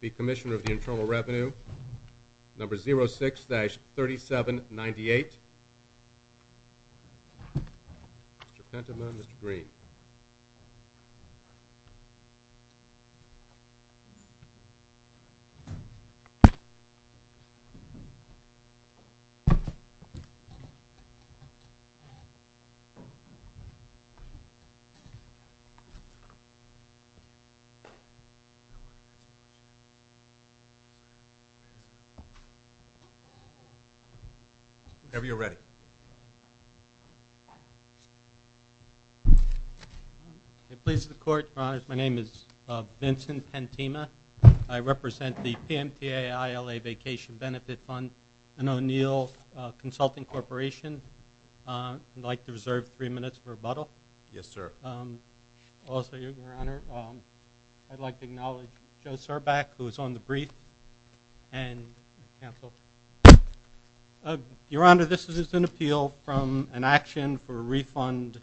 The Commissioner of the Internal Revenue, number 06-3798. Mr. Penton and Mr. Green. Whenever you're ready. It pleases the Court, Your Honors. My name is Vincent Pantema. I represent the PMTA-ILA Vacation Benefit Fund and O'Neill Consulting Corporation. I'd like to reserve three minutes for rebuttal. Yes, sir. Also, Your Honor, I'd like to acknowledge Joe Surback, who is on the brief, and counsel. Your Honor, this is an appeal from an action for a refund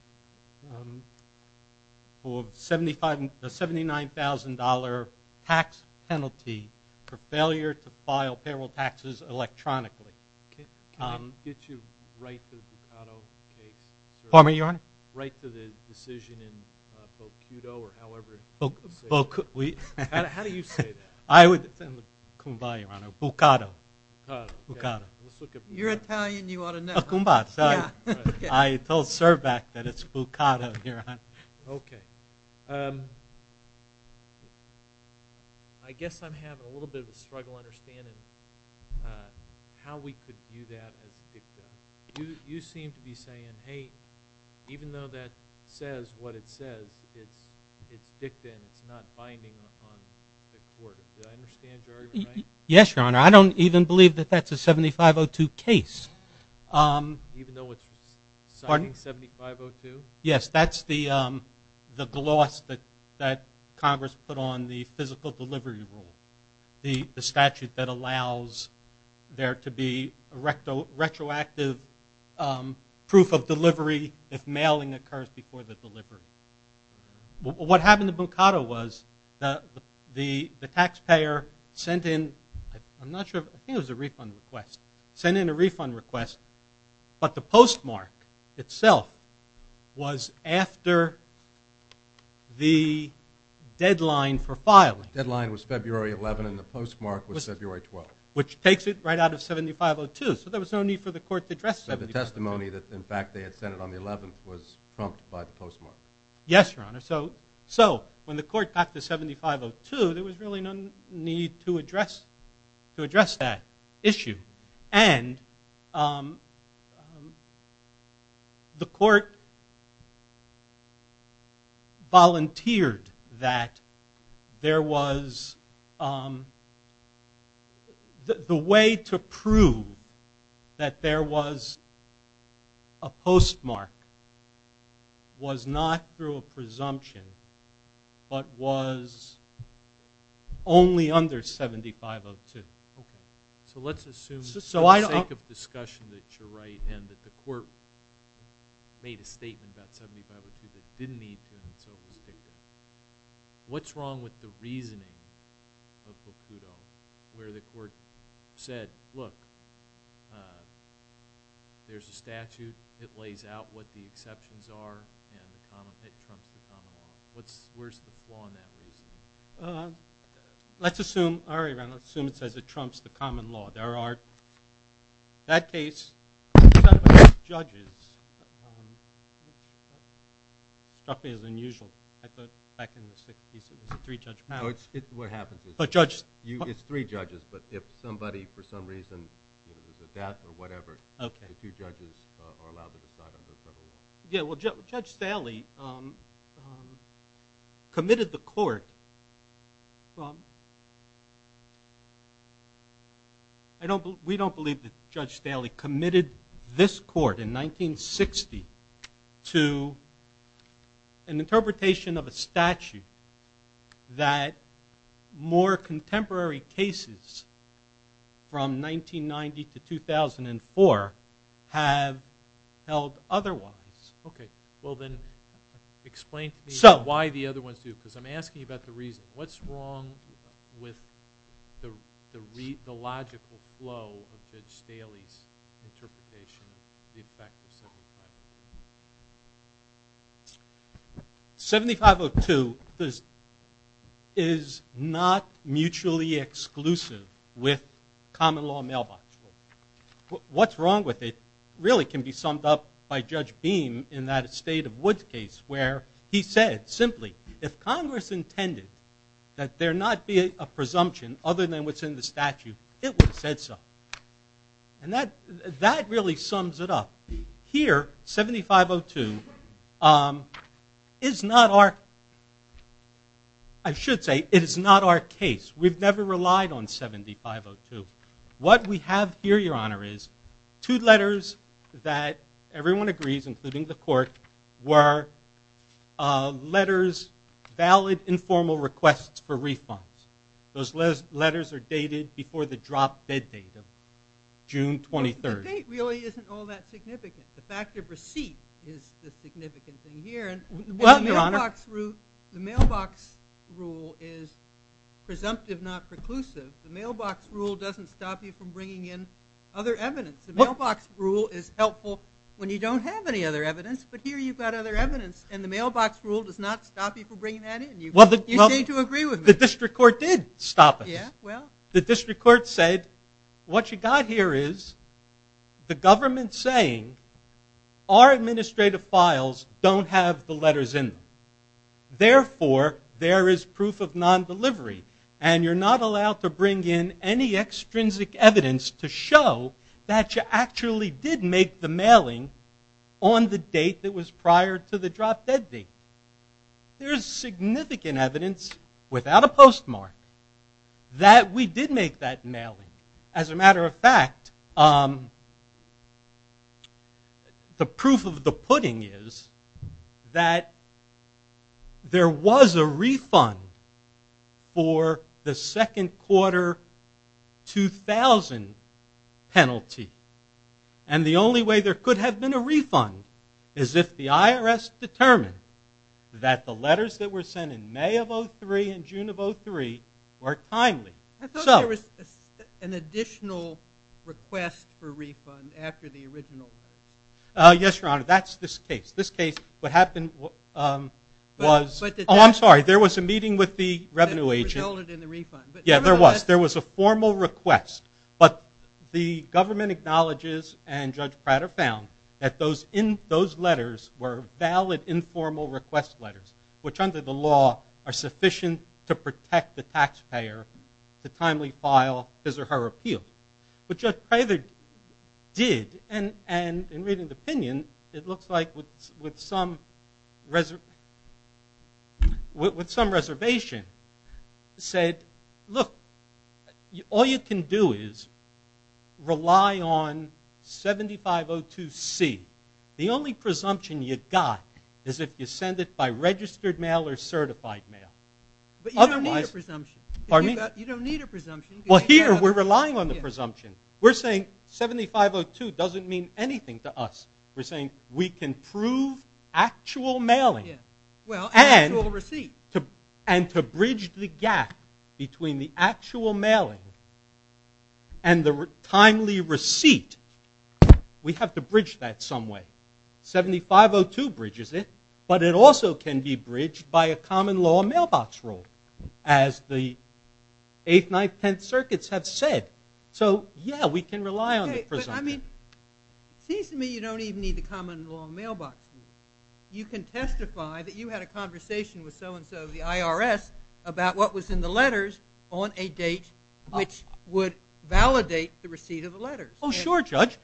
for a $79,000 tax penalty for failure to file payroll taxes electronically. Can I get you right to the Ducato case, sir? Pardon me, Your Honor? Right to the decision in Bocuto, or however you want to say it. How do you say that? It's in the Kumbha, Your Honor. Bucato. Bucato. Let's look at Bucato. You're Italian. You ought to know. Kumbha. I told Surback that it's Bucato, Your Honor. Okay. I guess I'm having a little bit of a struggle understanding how we could view that as Ducato. You seem to be saying, hey, even though that says what it says, it's dicta and it's not binding on the court. Did I understand you right? Yes, Your Honor. I don't even believe that that's a 7502 case. Even though it's signing 7502? Yes. That's the gloss that Congress put on the physical delivery rule. The statute that allows there to be retroactive proof of delivery if mailing occurs before the delivery. What happened to Bucato was the taxpayer sent in, I'm not sure, I think it was a refund request, sent in a refund request, but the postmark itself was after the deadline for filing. The deadline was February 11 and the postmark was February 12. Which takes it right out of 7502. So there was no need for the court to address 7502. But the testimony that, in fact, they had sent it on the 11th was prompted by the postmark. Yes, Your Honor. So when the court got to 7502, there was really no need to address that issue. And the court volunteered that there was, the way to prove that there was a postmark was not through a presumption, but was only under 7502. Okay. So let's assume, for the sake of discussion that you're right, and that the court made a statement about 7502 that didn't need to and it's overstated, what's wrong with the reasoning of Bucato where the court said, look, there's a statute, it lays out what the exceptions are, and it trumps the common law. Where's the flaw in that reasoning? Let's assume, all right, let's assume it says it trumps the common law. There are, in that case, three judges, which struck me as unusual. I thought back in the 60s it was a three-judge panel. No, it's what happens. Oh, judges. It's three judges, but if somebody, for some reason, there's a death or whatever, the two judges are allowed to decide under federal law. Yeah, well, Judge Staley committed the court. We don't believe that Judge Staley committed this court in 1960 to an interpretation of a statute that more contemporary cases from 1990 to 2004 have held otherwise. Okay. Well, then explain to me why the other ones do, because I'm asking about the reason. What's wrong with the logical flow of Judge Staley's interpretation of the effect of 7502? 7502 is not mutually exclusive with common law mailbox rule. What's wrong with it really can be summed up by Judge Beam in that Estate of Woods case where he said simply, if Congress intended that there not be a presumption other than what's in the statute, it would have said so. And that really sums it up. Here, 7502 is not our, I should say, it is not our case. We've never relied on 7502. What we have here, Your Honor, is two letters that everyone agrees, including the court, were letters, valid informal requests for refunds. Those letters are dated before the drop dead date of June 23rd. The date really isn't all that significant. The fact of receipt is the significant thing here. Well, Your Honor. The mailbox rule is presumptive, not preclusive. The mailbox rule doesn't stop you from bringing in other evidence. The mailbox rule is helpful when you don't have any other evidence, but here you've got other evidence, and the mailbox rule does not stop you from bringing that in. You say to agree with me. The district court did stop us. Well, the district court said what you've got here is the government saying our administrative files don't have the letters in them. Therefore, there is proof of non-delivery, and you're not allowed to bring in any extrinsic evidence to show that you actually did make the mailing on the date that was prior to the drop dead date. There is significant evidence without a postmark that we did make that mailing. As a matter of fact, the proof of the pudding is that there was a refund for the second quarter 2000 penalty, and the only way there could have been a refund is if the IRS determined that the letters that were sent in May of 2003 and June of 2003 were timely. I thought there was an additional request for refund after the original. Yes, Your Honor. That's this case. This case, what happened was... Oh, I'm sorry. There was a meeting with the revenue agent. That resulted in the refund. Yeah, there was. There was a formal request, but the government acknowledges and Judge Prater found that those letters were valid informal request letters, which under the law are sufficient to protect the taxpayer to timely file his or her appeal. But Judge Prater did, and in reading the opinion, it looks like with some reservation said, look, all you can do is rely on 7502C. The only presumption you got is if you send it by registered mail or certified mail. But you don't need a presumption. Pardon me? You don't need a presumption. Well, here we're relying on the presumption. We're saying 7502 doesn't mean anything to us. We're saying we can prove actual mailing. Well, actual receipt. And to bridge the gap between the actual mailing and the timely receipt, we have to bridge that some way. 7502 bridges it, but it also can be bridged by a common law mailbox rule, as the 8th, 9th, 10th circuits have said. So, yeah, we can rely on the presumption. Okay, but, I mean, it seems to me you don't even need the common law mailbox rule. You can testify that you had a conversation with so-and-so of the IRS about what was in the letters on a date which would validate the receipt of the letters. Oh, sure, Judge,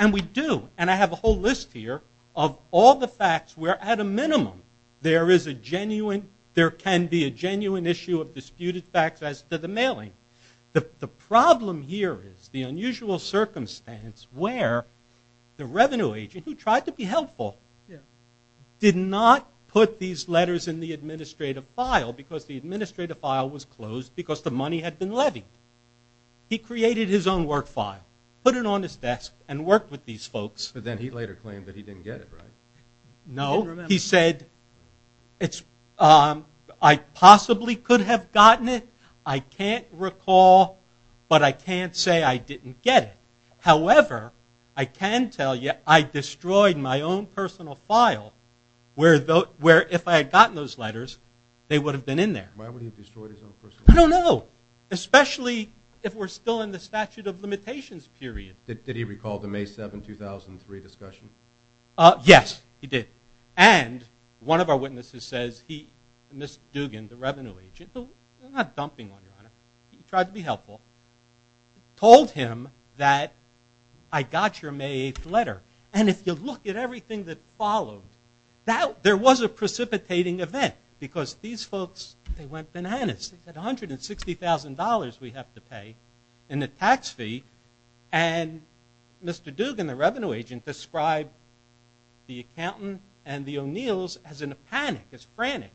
and we do. And I have a whole list here of all the facts where, at a minimum, there can be a genuine issue of disputed facts as to the mailing. The problem here is the unusual circumstance where the revenue agent, who tried to be helpful, did not put these letters in the administrative file because the administrative file was closed because the money had been levied. He created his own work file, put it on his desk, and worked with these folks. But then he later claimed that he didn't get it right. No. He said, I possibly could have gotten it. I can't recall, but I can't say I didn't get it. However, I can tell you I destroyed my own personal file where if I had gotten those letters, they would have been in there. Why would he have destroyed his own personal file? I don't know, especially if we're still in the statute of limitations period. Did he recall the May 7, 2003 discussion? Yes, he did. And one of our witnesses says he, Mr. Dugan, the revenue agent, not dumping one, Your Honor, he tried to be helpful, told him that I got your May 8th letter. And if you look at everything that followed, there was a precipitating event because these folks, they went bananas. They said $160,000 we have to pay in the tax fee. And Mr. Dugan, the revenue agent, described the accountant and the O'Neills as in a panic, as frantic.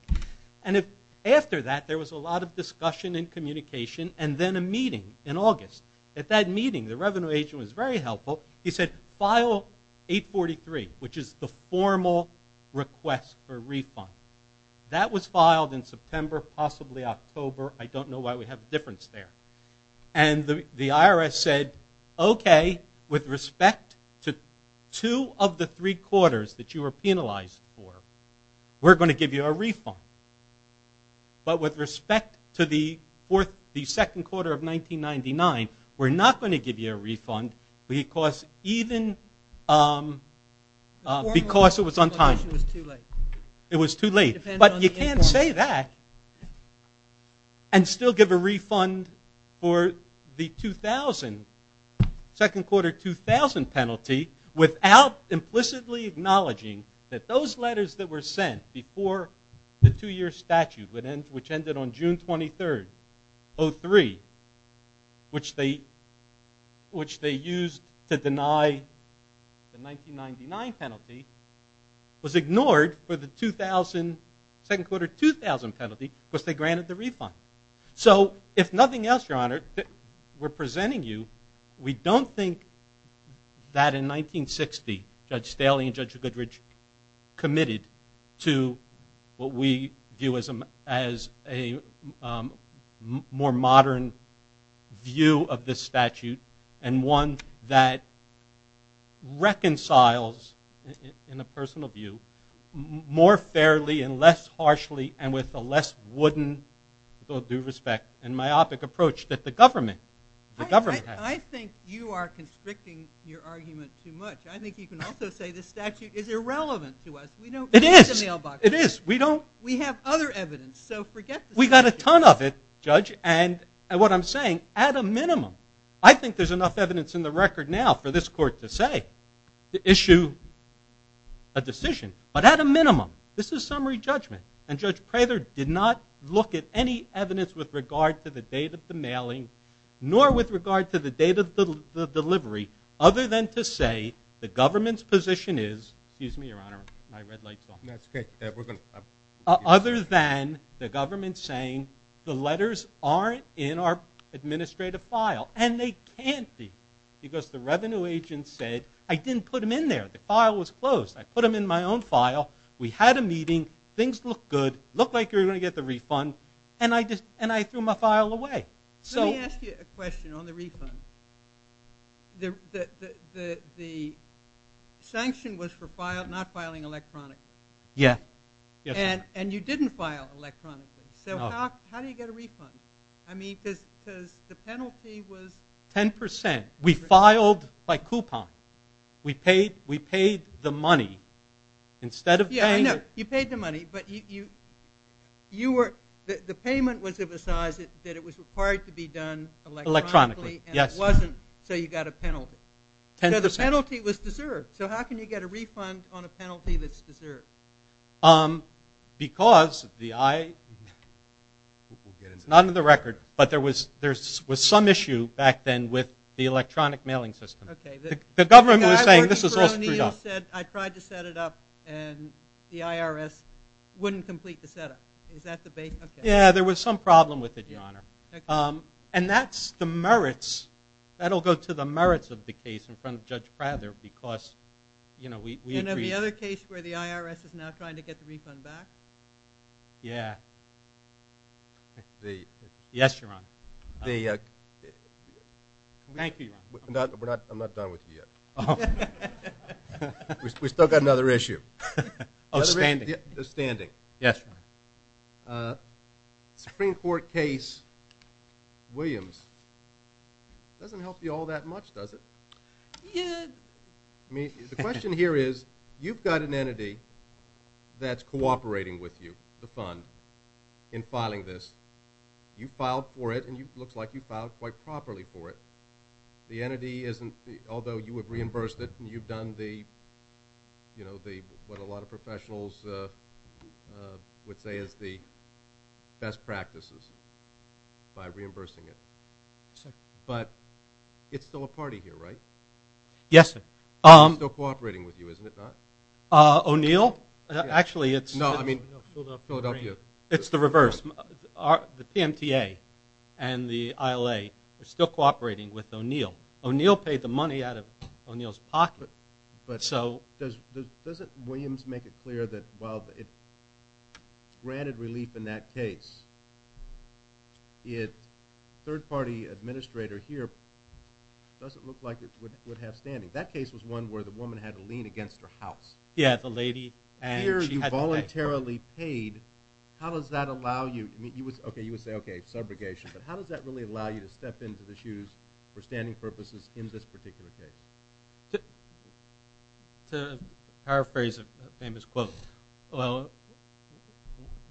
And after that, there was a lot of discussion and communication and then a meeting in August. At that meeting, the revenue agent was very helpful. He said file 843, which is the formal request for refund. That was filed in September, possibly October. I don't know why we have a difference there. And the IRS said, okay, with respect to two of the three quarters that you were penalized for, we're going to give you a refund. But with respect to the second quarter of 1999, we're not going to give you a refund because it was on time. It was too late. But you can't say that and still give a refund for the 2000, second quarter 2000 penalty without implicitly acknowledging that those letters that were sent before the two-year statute, which ended on June 23, 2003, which they used to deny the 1999 penalty, was ignored for the 2000, second quarter 2000 penalty because they granted the refund. So if nothing else, Your Honor, we're presenting you. We don't think that in 1960, Judge Staley and Judge Goodrich committed to what we view as a more modern view of this statute and one that reconciles, in a personal view, more fairly and less harshly and with a less wooden, with all due respect, and myopic approach that the government has. I think you are constricting your argument too much. I think you can also say the statute is irrelevant to us. It is. We have other evidence, so forget the statute. We've got a ton of it, Judge, and what I'm saying, at a minimum, I think there's enough evidence in the record now for this court to say, to issue a decision, but at a minimum, this is summary judgment, and Judge Prather did not look at any evidence with regard to the date of the mailing nor with regard to the date of the delivery other than to say the government's position is, excuse me, Your Honor, my red light's off. That's okay. Other than the government saying the letters aren't in our administrative file, and they can't be because the revenue agent said, I didn't put them in there. The file was closed. I put them in my own file. We had a meeting. Things looked good. It looked like you were going to get the refund, and I threw my file away. Let me ask you a question on the refund. The sanction was for not filing electronically. Yeah. And you didn't file electronically, so how do you get a refund? I mean, because the penalty was 10%. We filed by coupon. We paid the money instead of paying it. Yeah, I know. You paid the money, but the payment was of a size that it was required to be done electronically, and it wasn't, so you got a penalty. So the penalty was deserved. So how can you get a refund on a penalty that's deserved? Because the IRS, not on the record, but there was some issue back then with the electronic mailing system. The government was saying, this is all screwed up. I tried to set it up, and the IRS wouldn't complete the setup. Is that the base? Yeah, there was some problem with it, Your Honor. And that's the merits. That will go to the merits of the case in front of Judge Prather because, you know, we agreed. And the other case where the IRS is now trying to get the refund back? Yeah. Yes, Your Honor. Thank you, Your Honor. I'm not done with you yet. Oh. We've still got another issue. Oh, standing. Standing. Yes, Your Honor. Supreme Court case Williams doesn't help you all that much, does it? Yeah. The question here is, you've got an entity that's cooperating with you, the fund, in filing this. You filed for it, and it looks like you filed quite properly for it. The entity isn't, although you have reimbursed it, and you've done the, you know, what a lot of professionals would say is the best practices by reimbursing it. But it's still a party here, right? Yes, sir. It's still cooperating with you, isn't it not? O'Neill? Actually, it's the reverse. The PMTA and the ILA are still cooperating with O'Neill. O'Neill paid the money out of O'Neill's pocket. But doesn't Williams make it clear that while it granted relief in that case, its third-party administrator here doesn't look like it would have standing? That case was one where the woman had to lean against her house. Yeah, the lady. Here you voluntarily paid. How does that allow you? Okay, you would say, okay, subrogation. But how does that really allow you to step into the shoes for standing purposes in this particular case? To paraphrase a famous quote,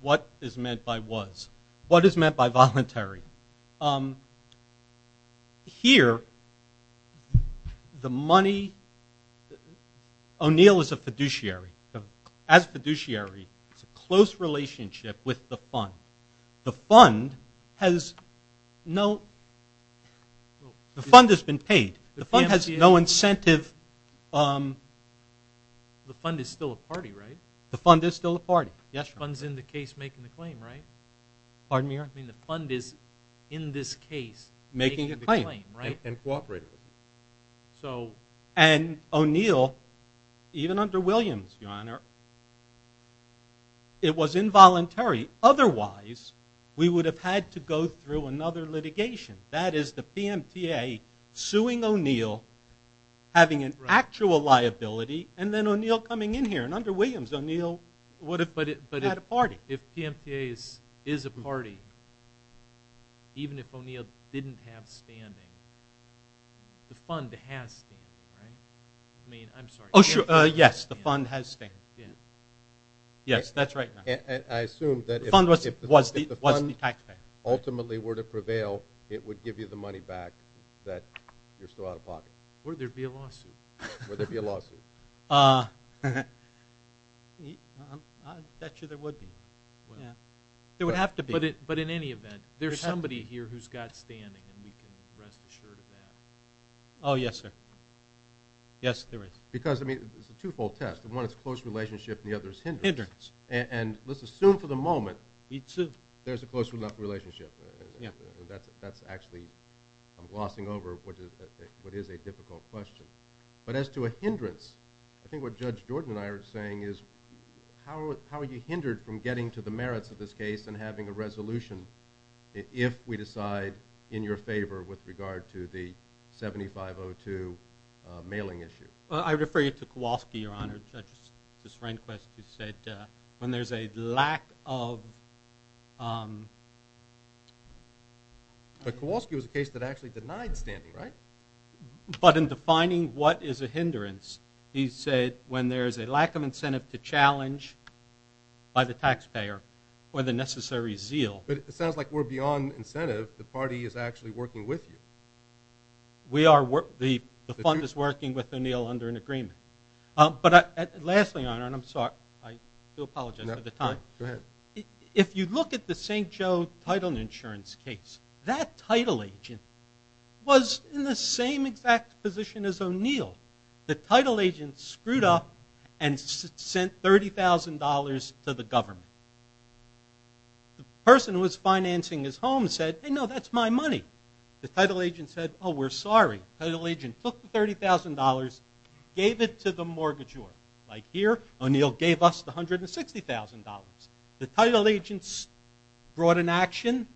what is meant by was? What is meant by voluntary? Here, the money – O'Neill is a fiduciary. As fiduciary, it's a close relationship with the fund. The fund has no – the fund has been paid. The fund has no incentive. The fund is still a party, right? The fund is still a party, yes. The fund's in the case making the claim, right? Pardon me, your Honor? I mean the fund is in this case making the claim, right? And cooperating with it. And O'Neill, even under Williams, your Honor, it was involuntary. Otherwise, we would have had to go through another litigation. That is the PMTA suing O'Neill, having an actual liability, and then O'Neill coming in here. And under Williams, O'Neill had a party. But if PMTA is a party, even if O'Neill didn't have standing, the fund has standing, right? I mean, I'm sorry. Yes, the fund has standing. Yes, that's right. I assume that if the fund ultimately were to prevail, it would give you the money back that you're still out of pocket. Would there be a lawsuit? Would there be a lawsuit? I bet you there would be. There would have to be. But in any event, there's somebody here who's got standing, and we can rest assured of that. Oh, yes, sir. Yes, there is. Because, I mean, it's a two-fold test. One is close relationship, and the other is hindrance. Hindrance. And let's assume for the moment there's a close relationship. That's actually, I'm glossing over what is a difficult question. But as to a hindrance, I think what Judge Jordan and I are saying is, how are you hindered from getting to the merits of this case and having a resolution if we decide in your favor with regard to the 7502 mailing issue? I'm sorry, Judge. It's Rehnquist who said when there's a lack of... But Kowalski was a case that actually denied standing, right? But in defining what is a hindrance, he said when there's a lack of incentive to challenge by the taxpayer or the necessary zeal. But it sounds like we're beyond incentive. The party is actually working with you. We are... The fund is working with O'Neill under an agreement. But lastly, and I'm sorry. I do apologize for the time. Go ahead. If you look at the St. Joe Title Insurance case, that title agent was in the same exact position as O'Neill. The title agent screwed up and sent $30,000 to the government. The person who was financing his home said, hey, no, that's my money. The title agent said, oh, we're sorry. The title agent took the $30,000, gave it to the mortgagor. Like here, O'Neill gave us the $160,000. The title agent brought an action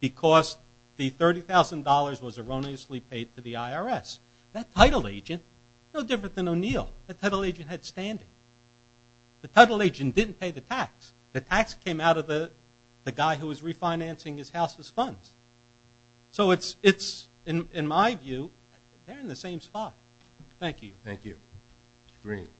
because the $30,000 was erroneously paid to the IRS. That title agent, no different than O'Neill, that title agent had standing. The title agent didn't pay the tax. The tax came out of the guy who was refinancing his house's funds. So it's, in my view, they're in the same spot. Thank you. Thank you. Green. Good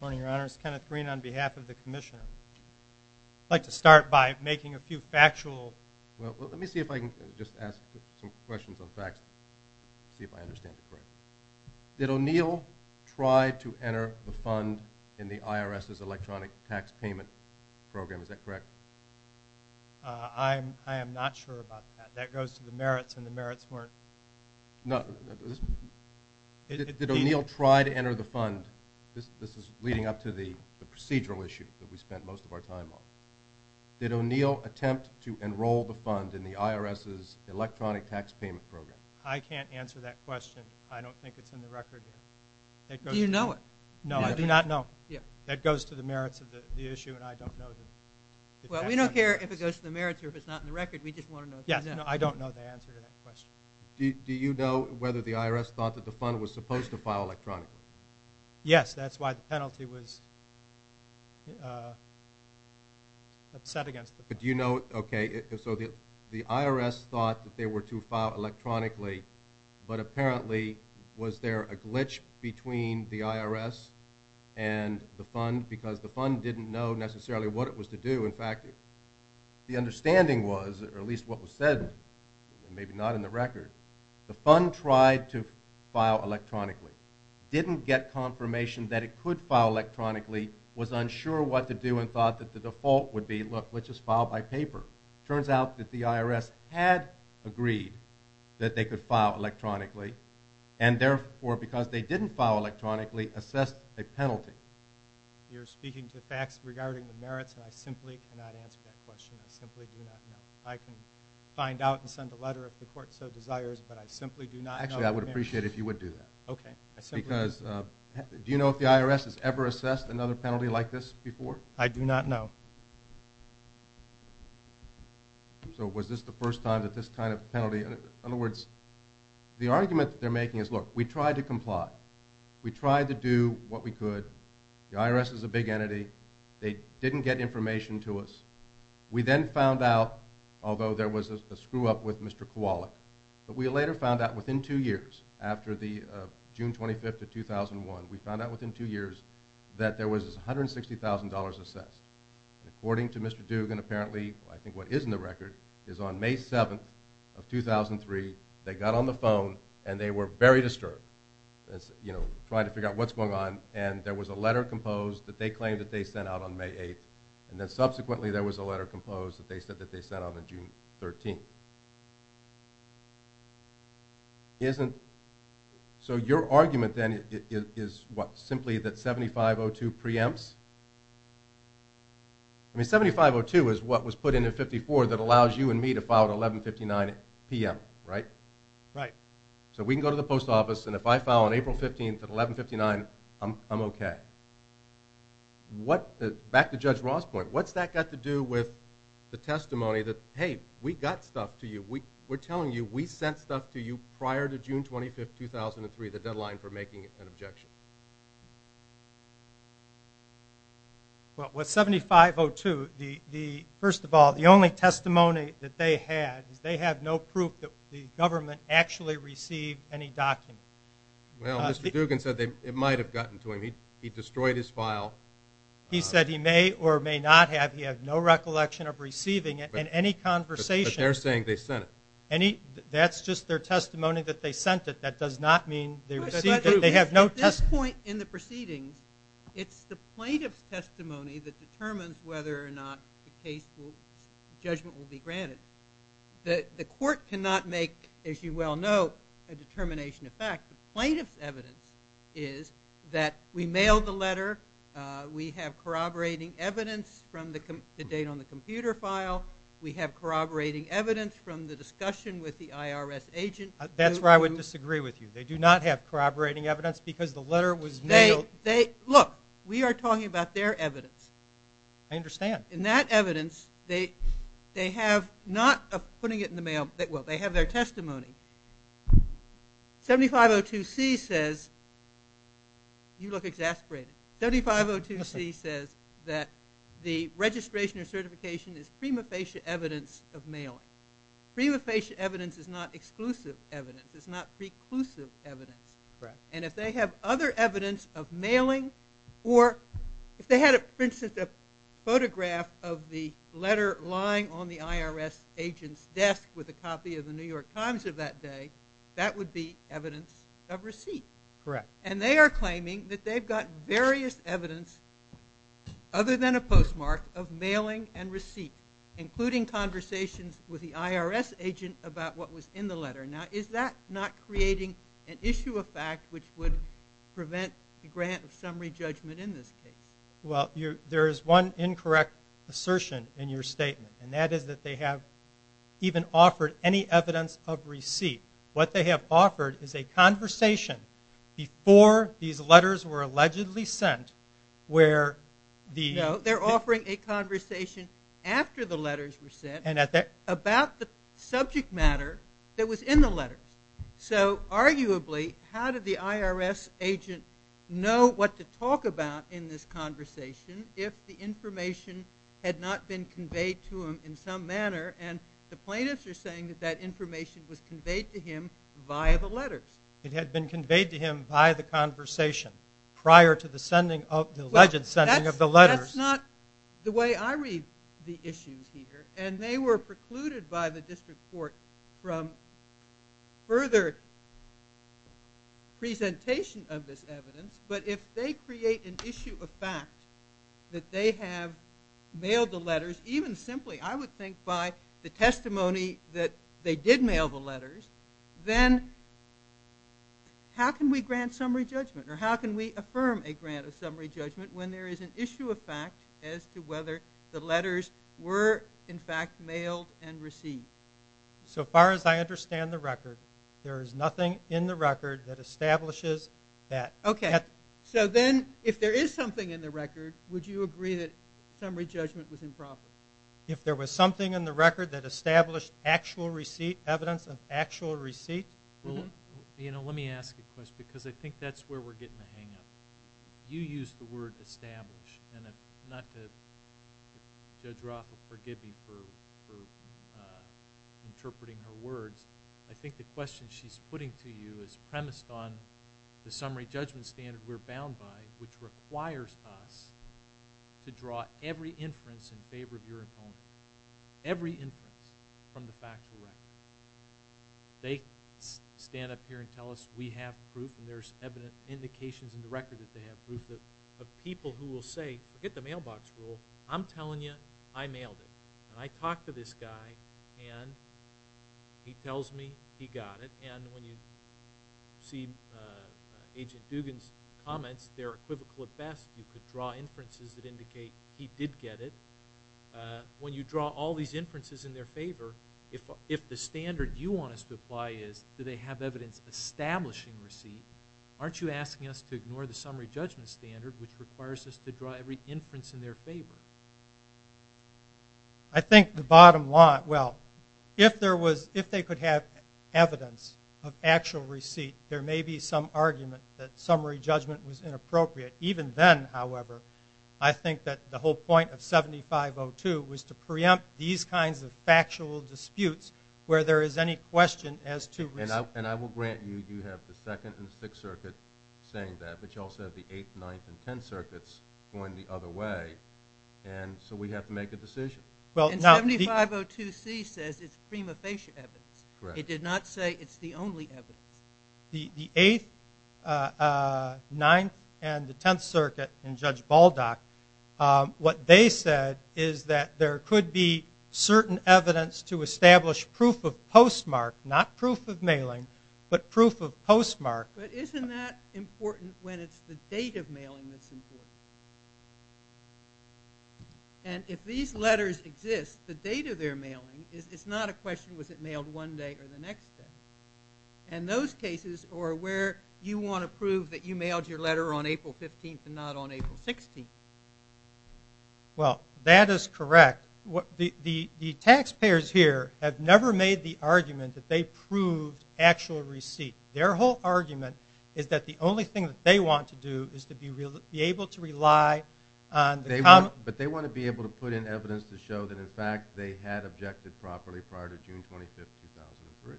morning, Your Honors. Kenneth Green on behalf of the Commissioner. I'd like to start by making a few factual... Well, let me see if I can just ask some questions on facts, see if I understand correctly. Did O'Neill try to enter the fund in the IRS's electronic tax payment program? Is that correct? I am not sure about that. That goes to the merits, and the merits weren't... No. Did O'Neill try to enter the fund? This is leading up to the procedural issue that we spent most of our time on. Did O'Neill attempt to enroll the fund in the IRS's electronic tax payment program? I can't answer that question. I don't think it's in the record. Do you know it? No, I do not know. That goes to the merits of the issue, and I don't know. Well, we don't care if it goes to the merits or if it's not in the record. We just want to know... Yes, I don't know the answer to that question. Do you know whether the IRS thought that the fund was supposed to file electronically? Yes, that's why the penalty was set against the fund. Do you know? The IRS thought that they were to file electronically, but apparently, was there a glitch between the IRS and the fund? Because the fund didn't know necessarily what it was to do. In fact, the understanding was, or at least what was said, and maybe not in the record, the fund tried to file electronically. It didn't get confirmation that it could file electronically. It was unsure what to do and thought that the default would be, look, let's just file by paper. It turns out that the IRS had agreed that they could file electronically, and therefore, because they didn't file electronically, assessed a penalty. You're speaking to facts regarding the merits, and I simply cannot answer that question. I simply do not know. I can find out and send a letter if the court so desires, but I simply do not know... Actually, I would appreciate it if you would do that. Okay. Because do you know if the IRS has ever assessed another penalty like this before? I do not know. So was this the first time that this kind of penalty... In other words, the argument that they're making is, look, we tried to comply. We tried to do what we could. The IRS is a big entity. They didn't get information to us. We then found out, although there was a screw-up with Mr. Kowalik, but we later found out within two years, after the June 25th of 2001, we found out within two years that there was $160,000 assessed. According to Mr. Dugan, apparently, I think what is in the record, is on May 7th of 2003, they got on the phone and they were very disturbed, trying to figure out what's going on, and there was a letter composed that they claimed that they sent out on May 8th, and then subsequently there was a letter composed that they said that they sent out on June 13th. Isn't... So your argument, then, is what? Simply that 7502 preempts? I mean, 7502 is what was put in in 54 that allows you and me to file at 1159 p.m., right? Right. So we can go to the post office, and if I file on April 15th at 1159, I'm okay. Back to Judge Ross' point, what's that got to do with the testimony that, hey, we got stuff to you. We're telling you we sent stuff to you prior to June 25th, 2003, the deadline for making an objection. Well, with 7502, first of all, the only testimony that they had is they have no proof that the government actually received any documents. Well, Mr. Dugan said it might have gotten to him. He destroyed his file. He said he may or may not have. He has no recollection of receiving it in any conversation. But they're saying they sent it. That's just their testimony that they sent it. That does not mean they received it. They have no testimony. At this point in the proceedings, it's the plaintiff's testimony that determines whether or not the judgment will be granted. The court cannot make, as you well know, a determination of fact. The plaintiff's evidence is that we mailed the letter, we have corroborating evidence from the date on the computer file, we have corroborating evidence from the discussion with the IRS agent. That's where I would disagree with you. They do not have corroborating evidence because the letter was mailed. Look, we are talking about their evidence. I understand. In that evidence, they have not putting it in the mail. Well, they have their testimony. 7502C says you look exasperated. 7502C says that the registration or certification is prima facie evidence of mailing. Prima facie evidence is not exclusive evidence. It's not preclusive evidence. And if they have other evidence of mailing or if they had, for instance, a photograph of the letter lying on the IRS agent's desk with a copy of the New York Times of that day, that would be evidence of receipt. Correct. And they are claiming that they've got various evidence, other than a postmark, of mailing and receipt, including conversations with the IRS agent about what was in the letter. Now, is that not creating an issue of fact which would prevent a grant of summary judgment in this case? Well, there is one incorrect assertion in your statement, and that is that they have even offered any evidence of receipt. What they have offered is a conversation before these letters were allegedly sent where the- No, they're offering a conversation after the letters were sent about the subject matter that was in the letters. So arguably, how did the IRS agent know what to talk about in this conversation if the information had not been conveyed to him in some manner? And the plaintiffs are saying that that information was conveyed to him via the letters. It had been conveyed to him by the conversation prior to the alleged sending of the letters. Well, that's not the way I read the issues here. And they were precluded by the district court from further presentation of this evidence. But if they create an issue of fact that they have mailed the letters, even simply I would think by the testimony that they did mail the letters, then how can we grant summary judgment or how can we affirm a grant of summary judgment when there is an issue of fact as to whether the letters were in fact mailed and received? So far as I understand the record, there is nothing in the record that establishes that. Okay. So then if there is something in the record, would you agree that summary judgment was improper? If there was something in the record that established actual receipt, evidence of actual receipt? You know, let me ask a question because I think that's where we're getting the hang of it. You used the word establish. And not to judge Roth or forgive me for interpreting her words, I think the question she's putting to you is premised on the summary judgment standard we're bound by, which requires us to draw every inference in favor of your opponent, every inference from the factual record. They stand up here and tell us we have proof and there's evident indications in the record that they have proof of people who will say forget the mailbox rule. I'm telling you I mailed it. And I talked to this guy and he tells me he got it. And when you see Agent Dugan's comments, they're equivocal at best. You could draw inferences that indicate he did get it. When you draw all these inferences in their favor, if the standard you want us to apply is do they have evidence establishing receipt, aren't you asking us to ignore the summary judgment standard which requires us to draw every inference in their favor? I think the bottom line, well, if they could have evidence of actual receipt, there may be some argument that summary judgment was inappropriate. Even then, however, I think that the whole point of 7502 was to preempt these kinds of factual disputes where there is any question as to receipt. And I will grant you you have the 2nd and 6th Circuit saying that, but you also have the 8th, 9th, and 10th Circuits going the other way. And so we have to make a decision. And 7502C says it's prima facie evidence. It did not say it's the only evidence. The 8th, 9th, and the 10th Circuit and Judge Baldock, what they said is that there could be certain evidence to establish proof of postmark, not proof of mailing, but proof of postmark. But isn't that important when it's the date of mailing that's important? And if these letters exist, the date of their mailing, it's not a question was it mailed one day or the next day. And those cases are where you want to prove that you mailed your letter on April 15th and not on April 16th. Well, that is correct. The taxpayers here have never made the argument that they proved actual receipt. Their whole argument is that the only thing that they want to do is to be able to rely on the comments. But they want to be able to put in evidence to show that, in fact, they had objected properly prior to June 25th, 2003.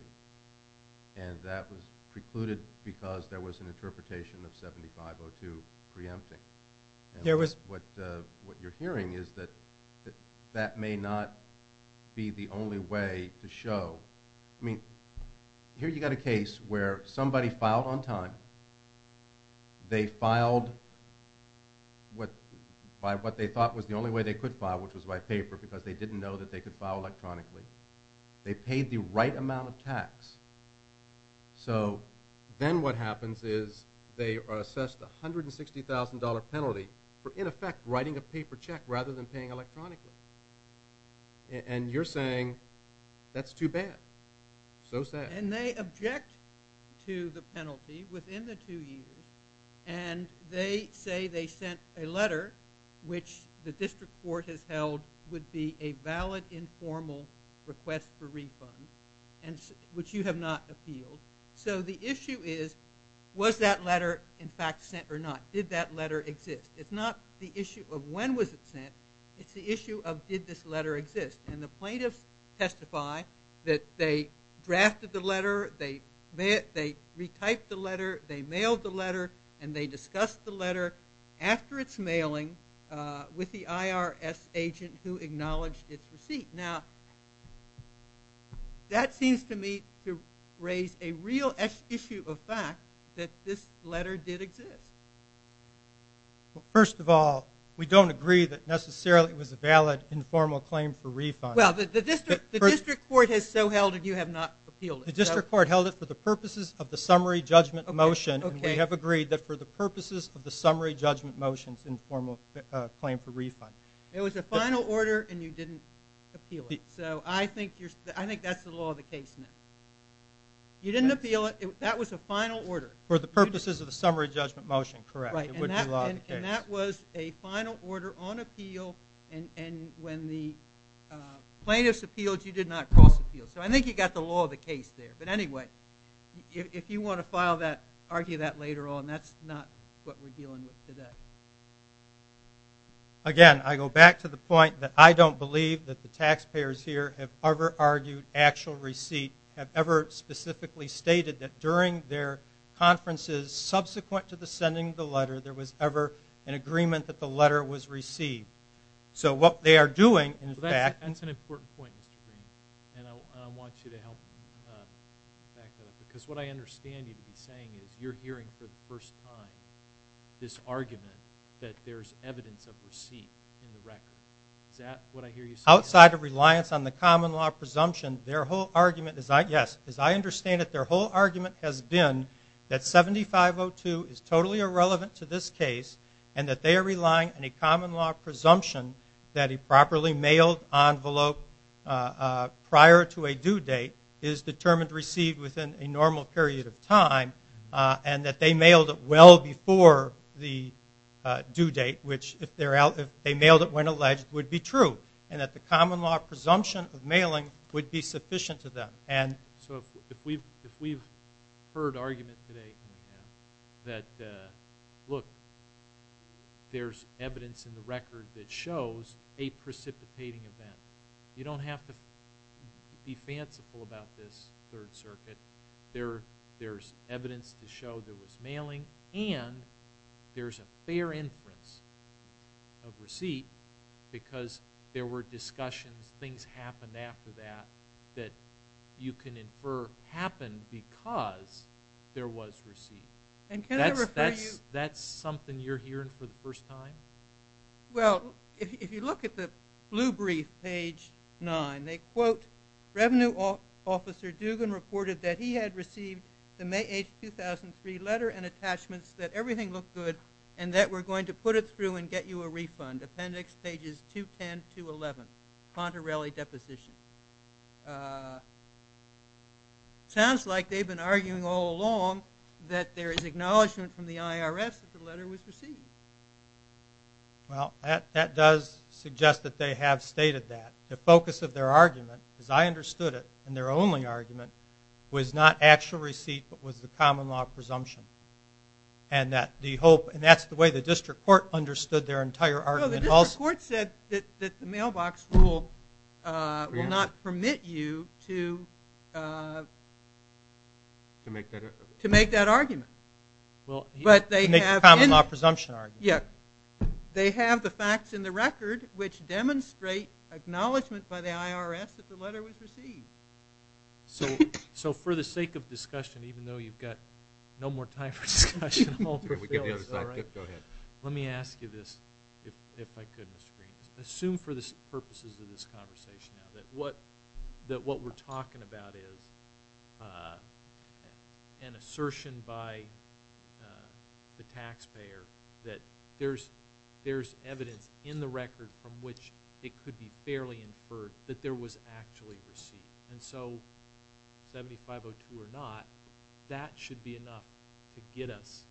And that was precluded because there was an interpretation of 7502 preempting. What you're hearing is that that may not be the only way to show. I mean, here you've got a case where somebody filed on time. They filed by what they thought was the only way they could file, which was by paper because they didn't know that they could file electronically. They paid the right amount of tax. So then what happens is they are assessed a $160,000 penalty for, in effect, writing a paper check rather than paying electronically. And you're saying that's too bad. So sad. And they object to the penalty within the two years. And they say they sent a letter, which the district court has held would be a valid informal request for refund, which you have not appealed. So the issue is was that letter, in fact, sent or not? Did that letter exist? It's not the issue of when was it sent. It's the issue of did this letter exist. And the plaintiffs testify that they drafted the letter, they retyped the letter, they mailed the letter, and they discussed the letter after its mailing with the IRS agent who acknowledged its receipt. Now, that seems to me to raise a real issue of fact that this letter did exist. First of all, we don't agree that necessarily it was a valid informal claim for refund. Well, the district court has so held it, you have not appealed it. The district court held it for the purposes of the summary judgment motion, and we have agreed that for the purposes of the summary judgment motion, it's an informal claim for refund. It was a final order, and you didn't appeal it. So I think that's the law of the case now. You didn't appeal it. That was a final order. For the purposes of the summary judgment motion, correct. And that was a final order on appeal, and when the plaintiffs appealed, you did not cross appeal. So I think you got the law of the case there. But anyway, if you want to file that, argue that later on. That's not what we're dealing with today. Again, I go back to the point that I don't believe that the taxpayers here have ever argued actual receipt, have ever specifically stated that during their conferences subsequent to the sending of the letter, there was ever an agreement that the letter was received. So what they are doing, in fact – That's an important point, Mr. Green, and I want you to help back that up, because what I understand you to be saying is you're hearing for the first time this argument that there's evidence of receipt in the record. Is that what I hear you saying? Outside of reliance on the common law presumption, their whole argument is, yes, as I understand it, their whole argument has been that 7502 is totally irrelevant to this case and that they are relying on a common law presumption that a properly mailed envelope prior to a due date is determined received within a normal period of time and that they mailed it well before the due date, which if they mailed it when alleged would be true, and that the common law presumption of mailing would be sufficient to them. So if we've heard argument today in the past that, look, there's evidence in the record that shows a precipitating event, you don't have to be fanciful about this Third Circuit. There's evidence to show there was mailing, and there's a fair inference of receipt because there were discussions, things happened after that that you can infer happened because there was receipt. And can I refer you – That's something you're hearing for the first time? Well, if you look at the blue brief, page 9, they quote, Revenue Officer Dugan reported that he had received the May 8, 2003, letter and attachments that everything looked good and that we're going to put it through and get you a refund, appendix pages 210 to 11, Pontarelli Deposition. Sounds like they've been arguing all along that there is acknowledgement from the IRS that the letter was received. Well, that does suggest that they have stated that. The focus of their argument, as I understood it, and their only argument was not actual receipt but was the common law presumption. And that's the way the district court understood their entire argument. No, the district court said that the mailbox rule will not permit you to make that argument. Make the common law presumption argument. Yeah. They have the facts in the record which demonstrate acknowledgement by the IRS that the letter was received. So for the sake of discussion, even though you've got no more time for discussion, let me ask you this, if I could, Mr. Green. Assume for the purposes of this conversation that what we're talking about is an assertion by the taxpayer that there's evidence in the record from which it could be fairly inferred that there was actually receipt. And so, 7502 or not, that should be enough to get us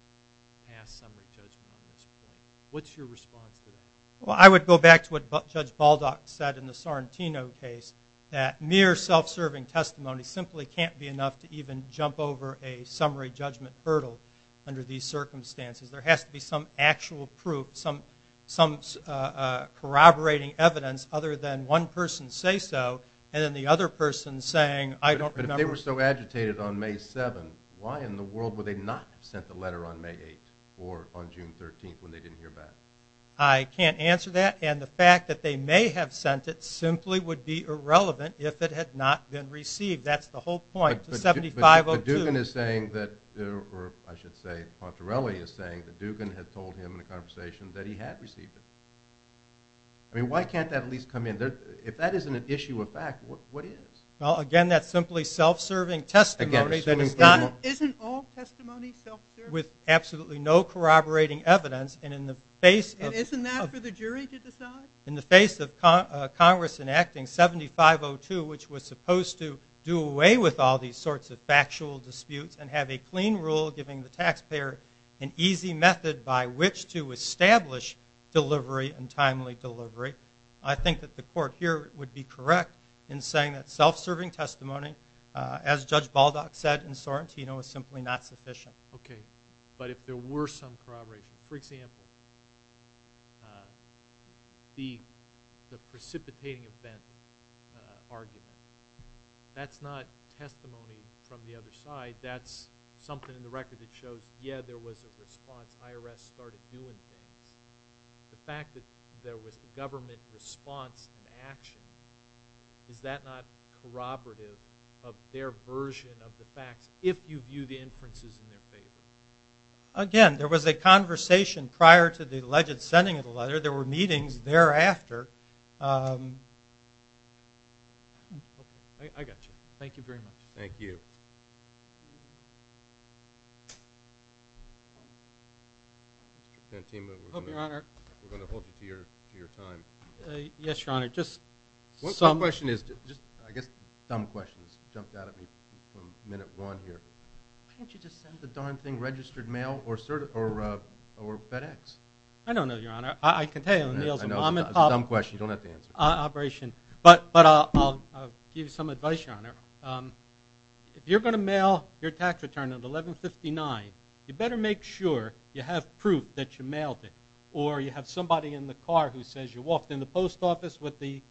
past summary judgment on this point. What's your response to that? Well, I would go back to what Judge Baldock said in the Sorrentino case, that mere self-serving testimony simply can't be enough to even jump over a summary judgment hurdle under these circumstances. There has to be some actual proof, some corroborating evidence other than one person say so and then the other person saying, I don't remember. But if they were so agitated on May 7, why in the world would they not have sent the letter on May 8 or on June 13 when they didn't hear back? I can't answer that. And the fact that they may have sent it simply would be irrelevant if it had not been received. That's the whole point to 7502. But Dugan is saying that, or I should say, Portarelli is saying that Dugan had told him in a conversation that he had received it. I mean, why can't that at least come in? If that isn't an issue of fact, what is? Well, again, that's simply self-serving testimony. Isn't all testimony self-serving? With absolutely no corroborating evidence and in the face of Isn't that for the jury to decide? In the face of Congress enacting 7502, which was supposed to do away with all these sorts of factual disputes and have a clean rule giving the taxpayer an easy method by which to establish delivery and timely delivery, I think that the court here would be correct in saying that self-serving testimony, as Judge Baldock said in Sorrentino, is simply not sufficient. Okay. But if there were some corroboration. For example, the precipitating event argument. That's not testimony from the other side. That's something in the record that shows, yeah, there was a response. IRS started doing things. The fact that there was a government response and action, is that not corroborative of their version of the facts if you view the inferences in their favor? Again, there was a conversation prior to the alleged sending of the letter. There were meetings thereafter. I got you. Thank you very much. Thank you. Senator Santino, we're going to hold you to your time. Yes, Your Honor. One question is, I guess dumb questions jumped out at me from minute one here. Why didn't you just send the darn thing registered mail or FedEx? I don't know, Your Honor. I can tell you. I know, it's a dumb question. You don't have to answer. Operation. But I'll give you some advice, Your Honor. If you're going to mail your tax return at 1159, you better make sure you have proof that you mailed it or you have somebody in the car who says you walked in the post office with the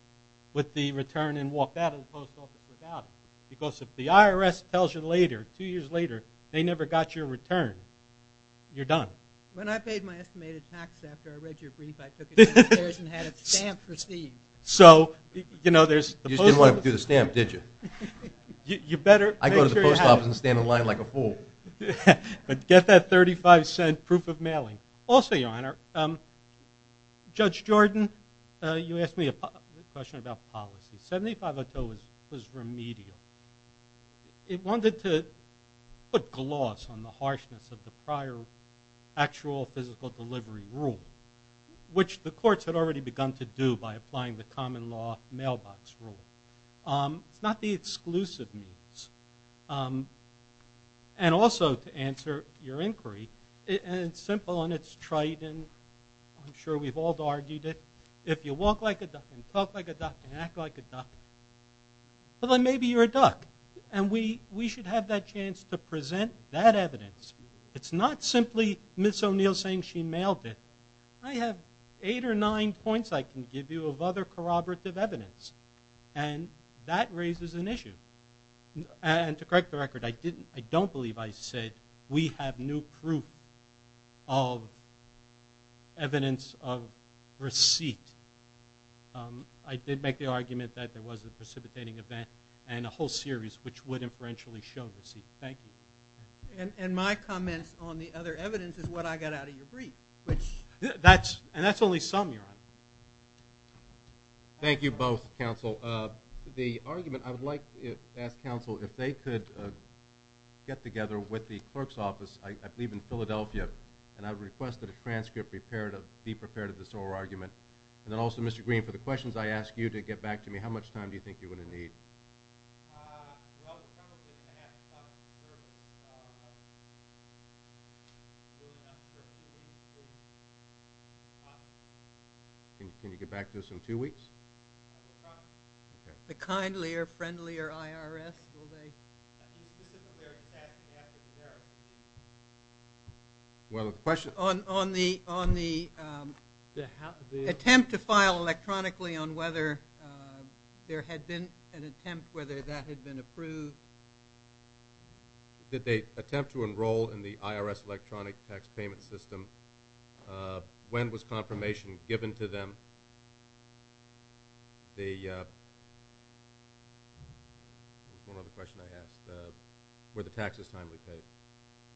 return and walked out of the post office without it. Because if the IRS tells you later, two years later, they never got your return, you're done. When I paid my estimated tax after I read your brief, I took it upstairs and had it stamped for Steve. You didn't want to do the stamp, did you? I go to the post office and stand in line like a fool. But get that $0.35 proof of mailing. Also, Your Honor, Judge Jordan, you asked me a question about policy. 7502 was remedial. It wanted to put gloss on the harshness of the prior actual physical delivery rule, which the courts had already begun to do by applying the common law mailbox rule. It's not the exclusive means. And also, to answer your inquiry, it's simple and it's trite, and I'm sure we've all argued it. If you walk like a duck and talk like a duck and act like a duck, well, then maybe you're a duck, and we should have that chance to present that evidence. It's not simply Ms. O'Neill saying she mailed it. I have eight or nine points I can give you of other corroborative evidence, and that raises an issue. And to correct the record, I don't believe I said we have new proof of evidence of receipt. I did make the argument that there was a precipitating event and a whole series which would inferentially show receipt. Thank you. And my comments on the other evidence is what I got out of your brief. And that's only some, Your Honor. Thank you both, Counsel. The argument I would like to ask, Counsel, if they could get together with the clerk's office, I believe in Philadelphia, and I would request that a transcript be prepared of this oral argument. And then also, Mr. Green, for the questions I ask you to get back to me, how much time do you think you're going to need? Well, some of it's going to have to come from the clerk. Can you get back to us in two weeks? The Kindly or Friendly or IRS, will they? Well, the question is? On the attempt to file electronically on whether there had been an attempt, whether that had been approved. Did they attempt to enroll in the IRS electronic tax payment system? When was confirmation given to them? One other question I asked. Were the taxes timely paid?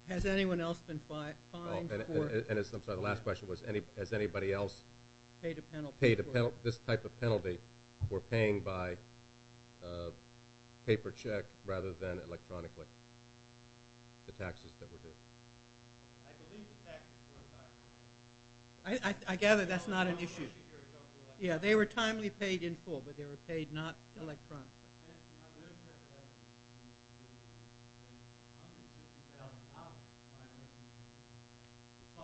Has anyone else been fined for it? And I'm sorry, the last question was, has anybody else paid this type of penalty for paying by paper check rather than electronically the taxes that were due? I believe the taxes were timely. I gather that's not an issue. Yeah, they were timely paid in full, but they were paid not electronically. I believe there were $150,000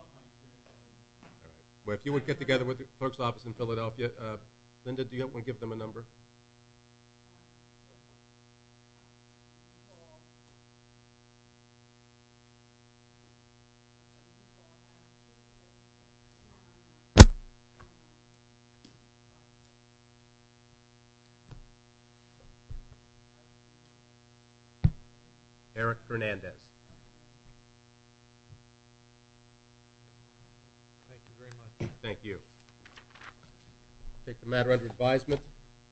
fined. Well, if you would get together with the clerk's office in Philadelphia. Linda, do you want to give them a number? Eric Hernandez. Thank you very much. Thank you. I take the matter under advisement.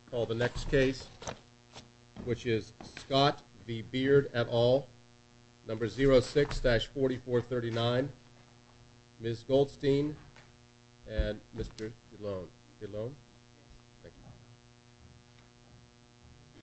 I call the next case, which is Scott V. Beard et al., number 06-4439. Ms. Goldstein and Mr. Ilone. Thank you.